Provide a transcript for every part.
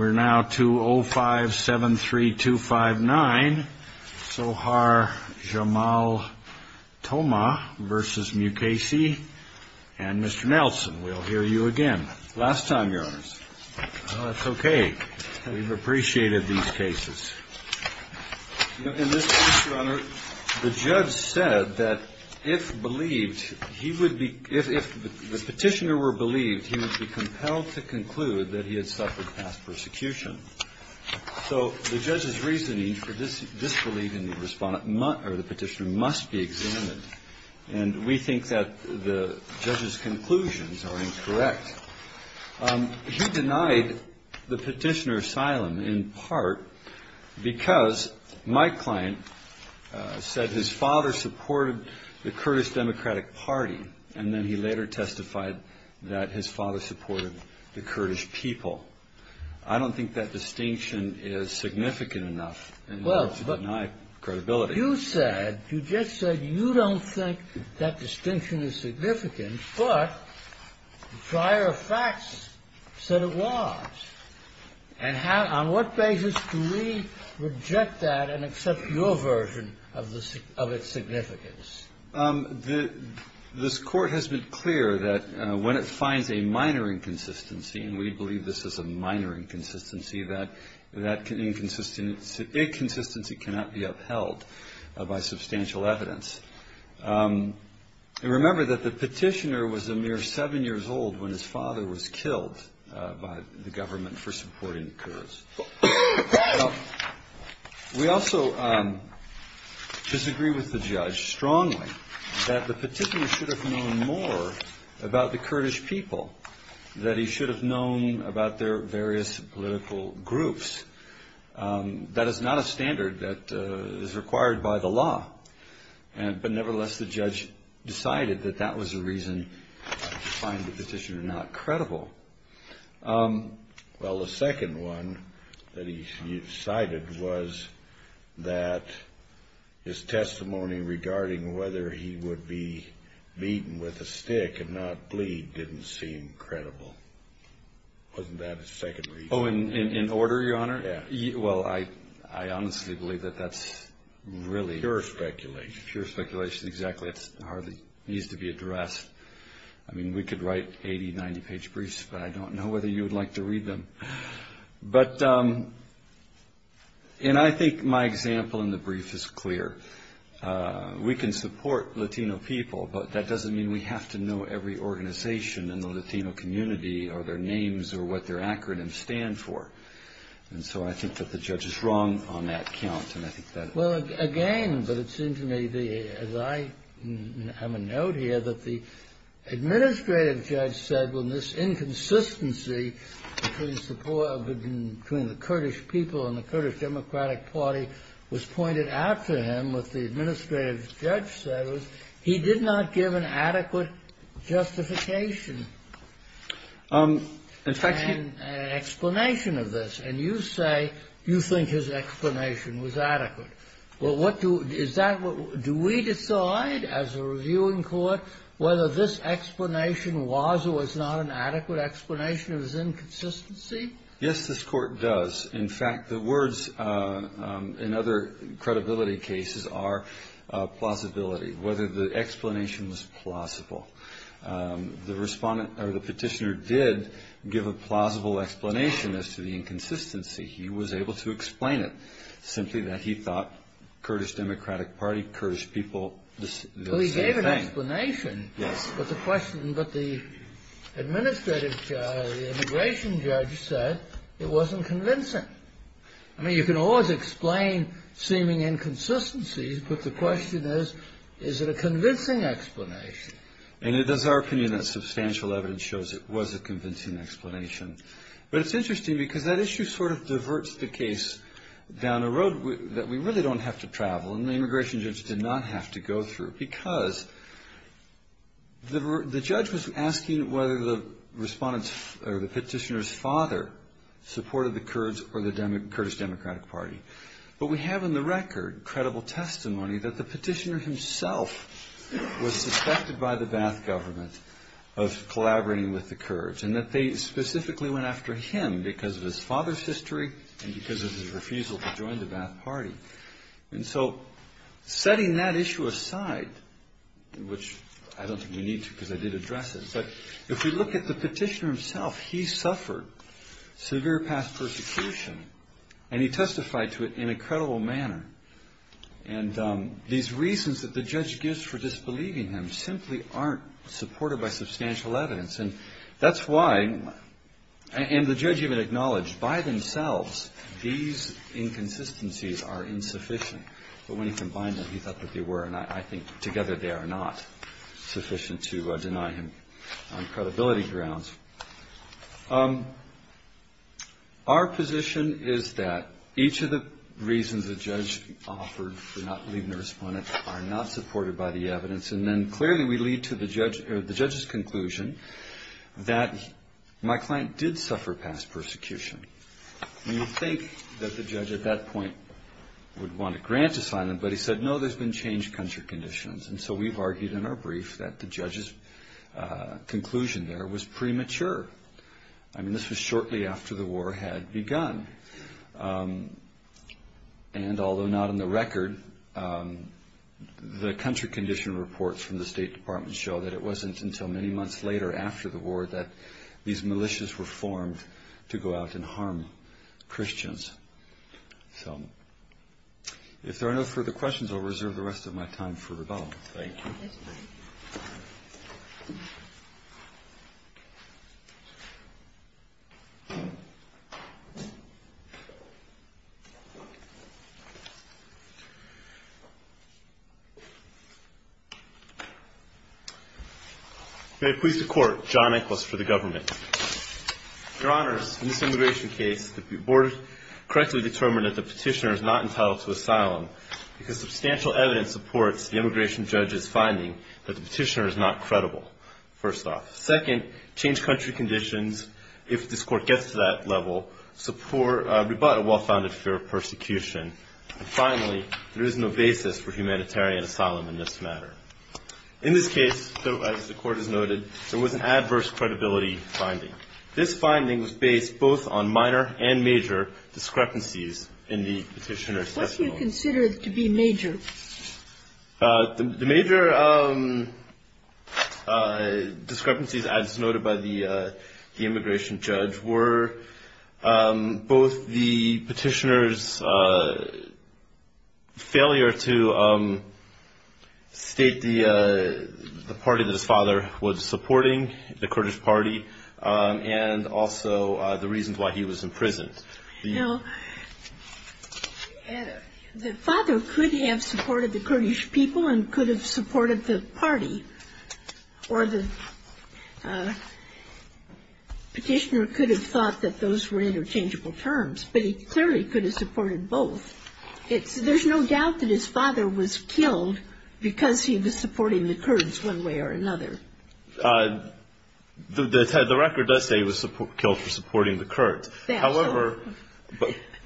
We're now to 0573259, Sohar Jamal Toma v. Mukasey, and Mr. Nelson. We'll hear you again. Last time, Your Honors. That's okay. We've appreciated these cases. In this case, Your Honor, the judge said that if the petitioner were believed, he would be compelled to conclude that he had suffered past persecution. So the judge's reasoning for disbelief in the petitioner must be examined. And we think that the judge's conclusions are incorrect. He denied the petitioner asylum in part because my client said his father supported the Kurdish Democratic Party, and then he later testified that his father supported the Kurdish people. I don't think that distinction is significant enough in order to deny credibility. You said, you just said you don't think that distinction is significant, but prior facts said it was. And on what basis do we reject that and accept your version of its significance? This Court has been clear that when it finds a minor inconsistency, and we believe this is a minor inconsistency, that inconsistency cannot be upheld by substantial evidence. And remember that the petitioner was a mere seven years old when his father was killed by the government for supporting Kurds. We also disagree with the judge strongly that the petitioner should have known more about the Kurdish people, that he should have known about their various political groups. That is not a standard that is required by the law. And but nevertheless, the judge decided that that was the reason to find the petitioner not credible. Well, the second one that he cited was that his testimony regarding whether he would be beaten with a stick and not bleed didn't seem credible. Wasn't that his second reason? Oh, in order, Your Honor? Yeah. Well, I honestly believe that that's really... Pure speculation. Pure speculation. Exactly. It hardly needs to be addressed. I mean, we could write 80-, 90-page briefs, but I don't know whether you would like to read them. But and I think my example in the brief is clear. We can support Latino people, but that doesn't mean we have to know every organization in the Latino community, or their names, or what their acronyms stand for. And so I think that the judge is wrong on that count, and I think that... Well, again, but it seemed to me, as I have a note here, that the administrative judge said, when this inconsistency between the Kurdish people and the Kurdish Democratic Party was pointed out to him, what the administrative judge said was he did not give an adequate justification and explanation of this. And you say you think his explanation was adequate. Well, what do... Is that what... Do we decide, as a reviewing court, whether this explanation was or was not an adequate explanation of his inconsistency? Yes, this court does. In fact, the words in other credibility cases are plausibility, whether the explanation was plausible. The petitioner did give a plausible explanation as to the inconsistency. He was able to explain it, simply that he thought Kurdish Democratic Party, Kurdish people... Well, he gave an explanation. Yes. But the administrative judge, the immigration judge said it wasn't convincing. I mean, you can always explain seeming inconsistencies, but the question is, is it a convincing explanation? And it is our opinion that substantial evidence shows it was a convincing explanation. But it's interesting because that issue sort of diverts the case down a road that we really don't have to travel, and the immigration judge did not have to go through because the judge was asking whether the respondent's or the petitioner's father supported the Kurds or the Kurdish Democratic Party. But we have in the record credible testimony that the petitioner himself was suspected by the Ba'ath government of collaborating with the Kurds and that they specifically went after him because of his father's history and because of his refusal to join the Ba'ath Party. And so setting that issue aside, which I don't think we need to because I did address it, but if we look at the petitioner himself, he suffered severe past persecution and he testified to it in a credible manner. And these reasons that the judge gives for disbelieving him simply aren't supported by substantial evidence. And that's why, and the judge even acknowledged by themselves, these inconsistencies are insufficient. But when he combined them, he thought that they were, and I think together they are not sufficient to deny him on credibility grounds. Our position is that each of the reasons the judge offered for not believing the respondent are not supported by the evidence and then clearly we lead to the judge's conclusion that my client did suffer past persecution. You would think that the judge at that point would want to grant asylum, but he said, no, there's been changed country conditions. And so we've argued in our brief that the judge's conclusion there was premature. I mean, this was shortly after the war had begun. And although not in the record, the country condition reports from the State Department show that it wasn't until many months later after the war that these militias were formed to go out and harm Christians. If there are no further questions, I'll reserve the rest of my time for rebuttal. Thank you. May it please the Court, John Nicholas for the Government. Your Honors, in this immigration case, the Board correctly determined that the petitioner is not entitled to asylum because substantial evidence supports the immigration judge's finding that the petitioner is not credible, first off. Second, changed country conditions, if this Court gets to that level, support a well-founded fear of persecution. And finally, there is no basis for humanitarian asylum in this matter. In this case, as the Court has noted, there was an adverse credibility finding. This finding was based both on minor and major discrepancies in the petitioner's testimony. What do you consider to be major? The major discrepancies, as noted by the immigration judge, were both the petitioner's failure to state the party that his father was supporting, the Kurdish party, and also the reasons why he was imprisoned. Now, the father could have supported the Kurdish people and could have supported the party, or the petitioner could have thought that those were interchangeable terms, but he clearly could have supported both. There's no doubt that his father was killed because he was supporting the Kurds one way or another. The record does say he was killed for supporting the Kurds. But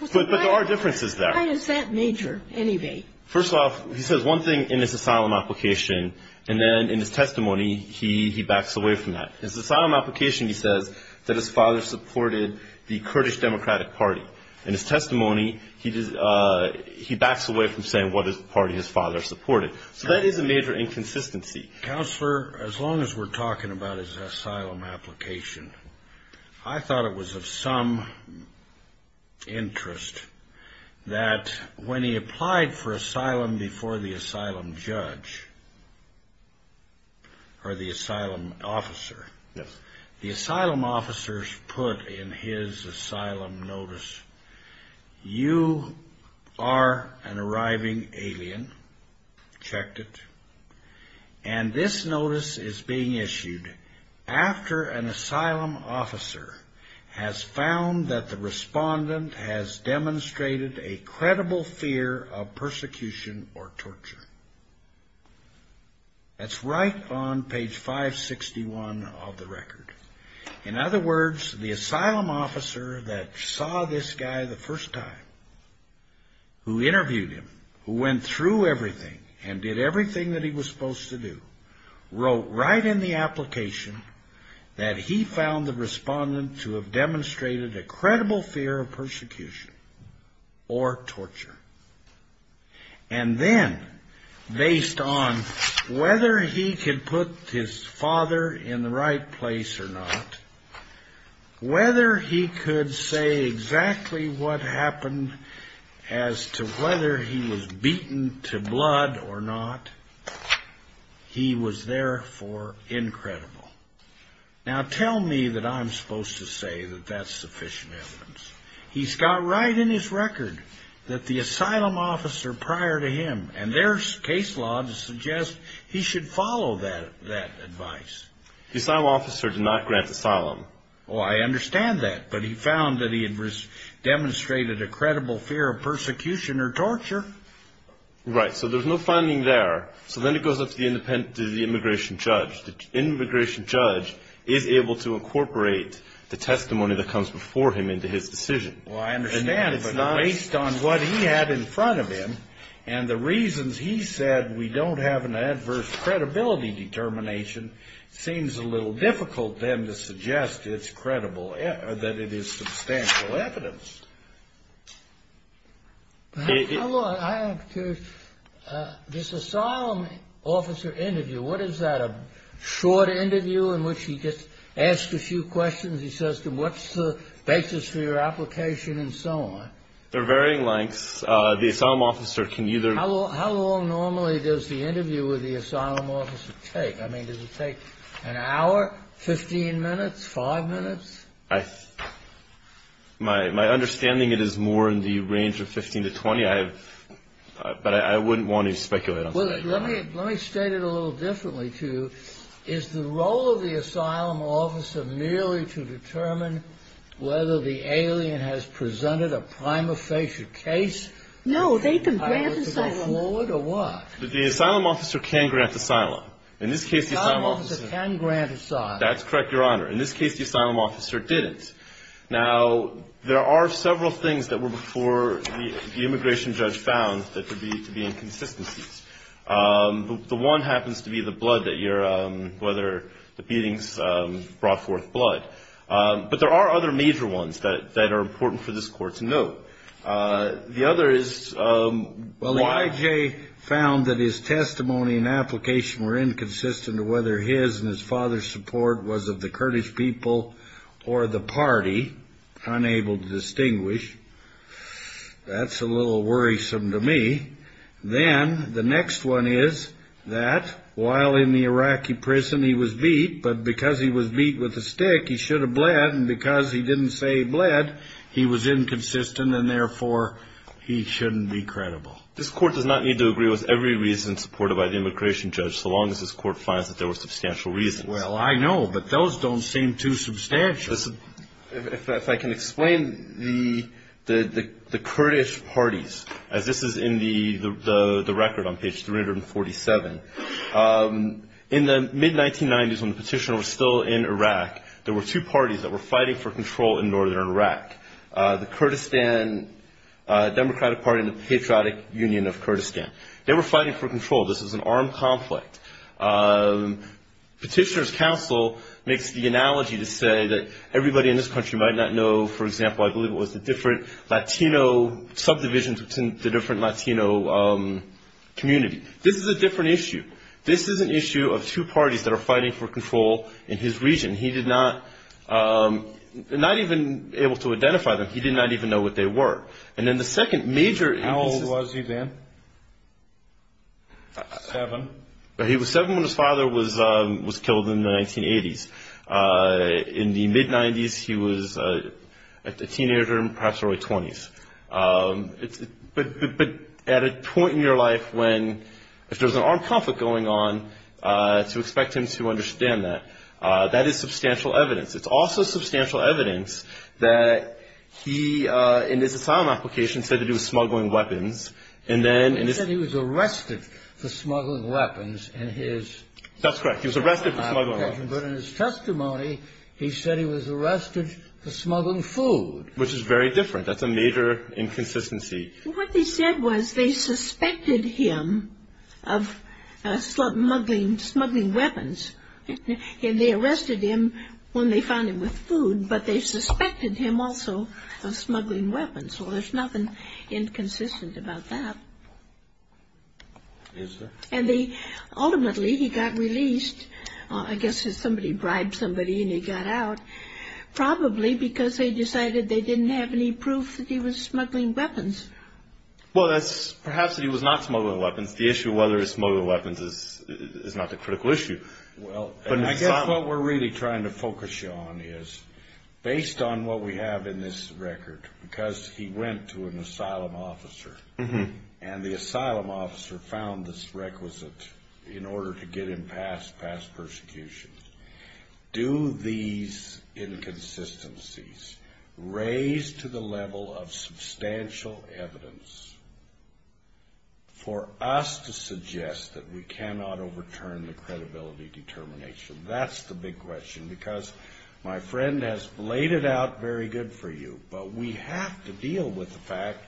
there are differences there. Why is that major, anyway? First off, he says one thing in his asylum application, and then in his testimony, he backs away from that. In his asylum application, he says that his father supported the Kurdish Democratic Party. In his testimony, he backs away from saying what party his father supported. So that is a major inconsistency. Counselor, as long as we're talking about his asylum application, I thought it was of some interest that when he applied for asylum before the asylum judge, or the asylum officer, the asylum officers put in his asylum notice, You are an arriving alien. Checked it. And this notice is being issued after an asylum officer has found that the respondent has demonstrated a credible fear of persecution or torture. In other words, the asylum officer that saw this guy the first time, who interviewed him, who went through everything, and did everything that he was supposed to do, wrote right in the application that he found the respondent to have demonstrated a credible fear of persecution or torture. And then, based on whether he could put his father in the right place or not, whether he could say exactly what happened as to whether he was beaten to blood or not, he was therefore incredible. Now tell me that I'm supposed to say that that's sufficient evidence. He's got right in his record that the asylum officer prior to him, and there's case law to suggest he should follow that advice. The asylum officer did not grant asylum. Oh, I understand that. But he found that he had demonstrated a credible fear of persecution or torture. Right. So there's no finding there. So then it goes up to the immigration judge. The immigration judge is able to incorporate the testimony that comes before him into his decision. Well, I understand, but based on what he had in front of him, and the reasons he said we don't have an adverse credibility determination, it seems a little difficult then to suggest that it is substantial evidence. I'm curious, this asylum officer interview, what is that, a short interview in which he just asks a few questions? He says to him, what's the basis for your application, and so on? They're varying lengths. The asylum officer can either... How long normally does the interview with the asylum officer take? I mean, does it take an hour, 15 minutes, 5 minutes? My understanding, it is more in the range of 15 to 20. But I wouldn't want to speculate on that. Let me state it a little differently to you. Is the role of the asylum officer merely to determine whether the alien has presented a prima facie case? No, they can grant asylum. Or what? The asylum officer can grant asylum. The asylum officer can grant asylum. That's correct, Your Honor. In this case, the asylum officer didn't. Now, there are several things that were before the immigration judge found that could be inconsistencies. The one happens to be the blood that you're... whether the beatings brought forth blood. But there are other major ones that are important for this Court to note. The other is why... Well, the IJ found that his testimony and application were inconsistent as to whether his and his father's support was of the Kurdish people or the party. Unable to distinguish. That's a little worrisome to me. Then, the next one is that while in the Iraqi prison, he was beat. But because he was beat with a stick, he should have bled. And because he didn't say he bled, he was inconsistent. And therefore, he shouldn't be credible. This Court does not need to agree with every reason supported by the immigration judge so long as this Court finds that there were substantial reasons. Well, I know, but those don't seem too substantial. If I can explain the Kurdish parties, as this is in the record on page 347. In the mid-1990s, when the petitioner was still in Iraq, there were two parties that were fighting for control in northern Iraq. The Kurdistan Democratic Party and the Patriotic Union of Kurdistan. They were fighting for control. This was an armed conflict. Petitioner's counsel makes the analogy to say that everybody in this country might not know, for example, I believe it was the different Latino subdivisions within the different Latino community. This is a different issue. This is an issue of two parties that are fighting for control in his region. He did not even able to identify them. He did not even know what they were. How old was he then? Seven. He was seven when his father was killed in the 1980s. In the mid-'90s, he was a teenager, perhaps early 20s. But at a point in your life when, if there's an armed conflict going on, to expect him to understand that, that is substantial evidence. It's also substantial evidence that he, in his asylum application, said that he was smuggling weapons. He said he was arrested for smuggling weapons. That's correct. He was arrested for smuggling weapons. But in his testimony, he said he was arrested for smuggling food. Which is very different. That's a major inconsistency. What they said was they suspected him of smuggling weapons, and they arrested him when they found him with food, but they suspected him also of smuggling weapons. Well, there's nothing inconsistent about that. Yes, sir. And they ultimately, he got released. I guess somebody bribed somebody and he got out, probably because they decided they didn't have any proof that he was smuggling weapons. Well, that's perhaps that he was not smuggling weapons. The issue of whether he was smuggling weapons is not the critical issue. Well, I guess what we're really trying to focus you on is, based on what we have in this record, because he went to an asylum officer, and the asylum officer found this requisite in order to get him past persecution, do these inconsistencies raise to the level of substantial evidence for us to suggest that we cannot overturn the credibility determination? That's the big question, because my friend has laid it out very good for you, but we have to deal with the fact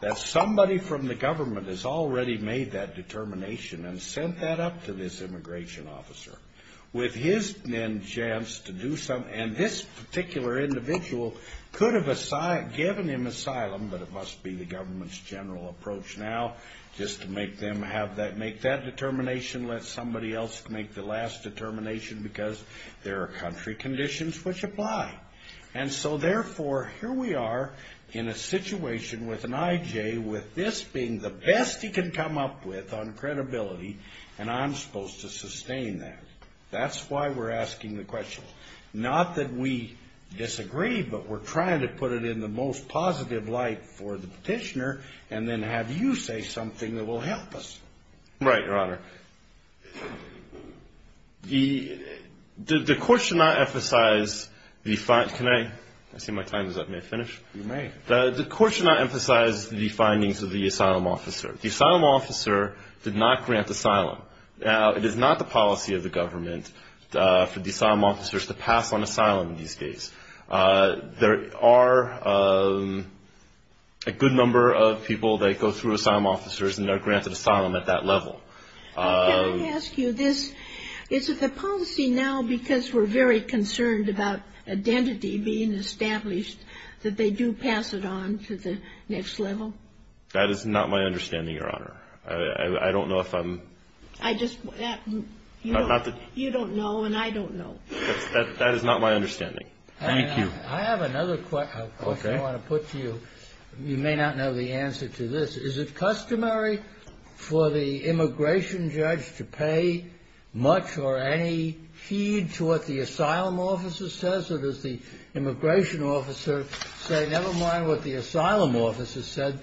that somebody from the government has already made that determination and sent that up to this immigration officer. With his then chance to do something, and this particular individual could have given him asylum, but it must be the government's general approach now, just to make that determination, let somebody else make the last determination, because there are country conditions which apply. And so, therefore, here we are in a situation with an IJ with this being the best he can come up with on credibility, and I'm supposed to sustain that. That's why we're asking the question. Not that we disagree, but we're trying to put it in the most positive light for the petitioner and then have you say something that will help us. Right, Your Honor. The court should not emphasize the findings of the asylum officer. The asylum officer did not grant asylum. Now, it is not the policy of the government for the asylum officers to pass on asylum in this case. There are a good number of people that go through asylum officers and are granted asylum at that level. Can I ask you this? Is it the policy now, because we're very concerned about identity being established, that they do pass it on to the next level? That is not my understanding, Your Honor. I don't know if I'm... You don't know, and I don't know. That is not my understanding. Thank you. I have another question I want to put to you. You may not know the answer to this. Is it customary for the immigration judge to pay much or any heed to what the asylum officer says? Or does the immigration officer say, never mind what the asylum officer said,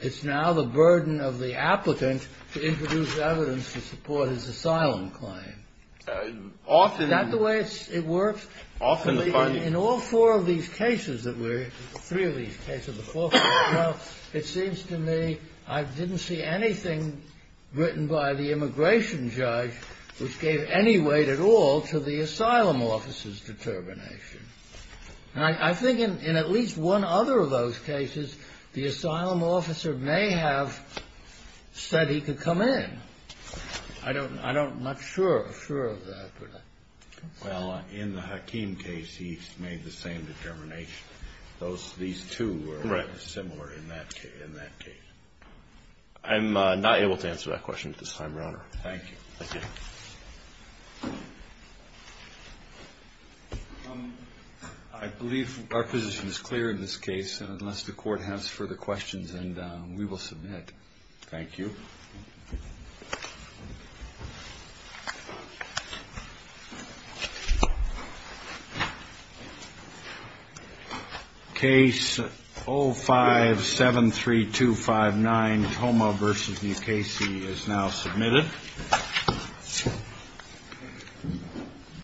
it's now the burden of the applicant to introduce evidence to support his asylum claim? Often... Is that the way it works? Often... In all four of these cases that we're... Three of these cases, the fourth one, it seems to me I didn't see anything written by the immigration judge which gave any weight at all to the asylum officer's determination. And I think in at least one other of those cases, the asylum officer may have said he could come in. I don't know. I'm not sure of that. Well, in the Hakim case, he made the same determination. These two are similar in that case. I'm not able to answer that question at this time, Your Honor. Thank you. Thank you. I believe our position is clear in this case, unless the court has further questions, and we will submit. Thank you. Case 0573259, Toma v. New Casey, is now submitted. Thank you.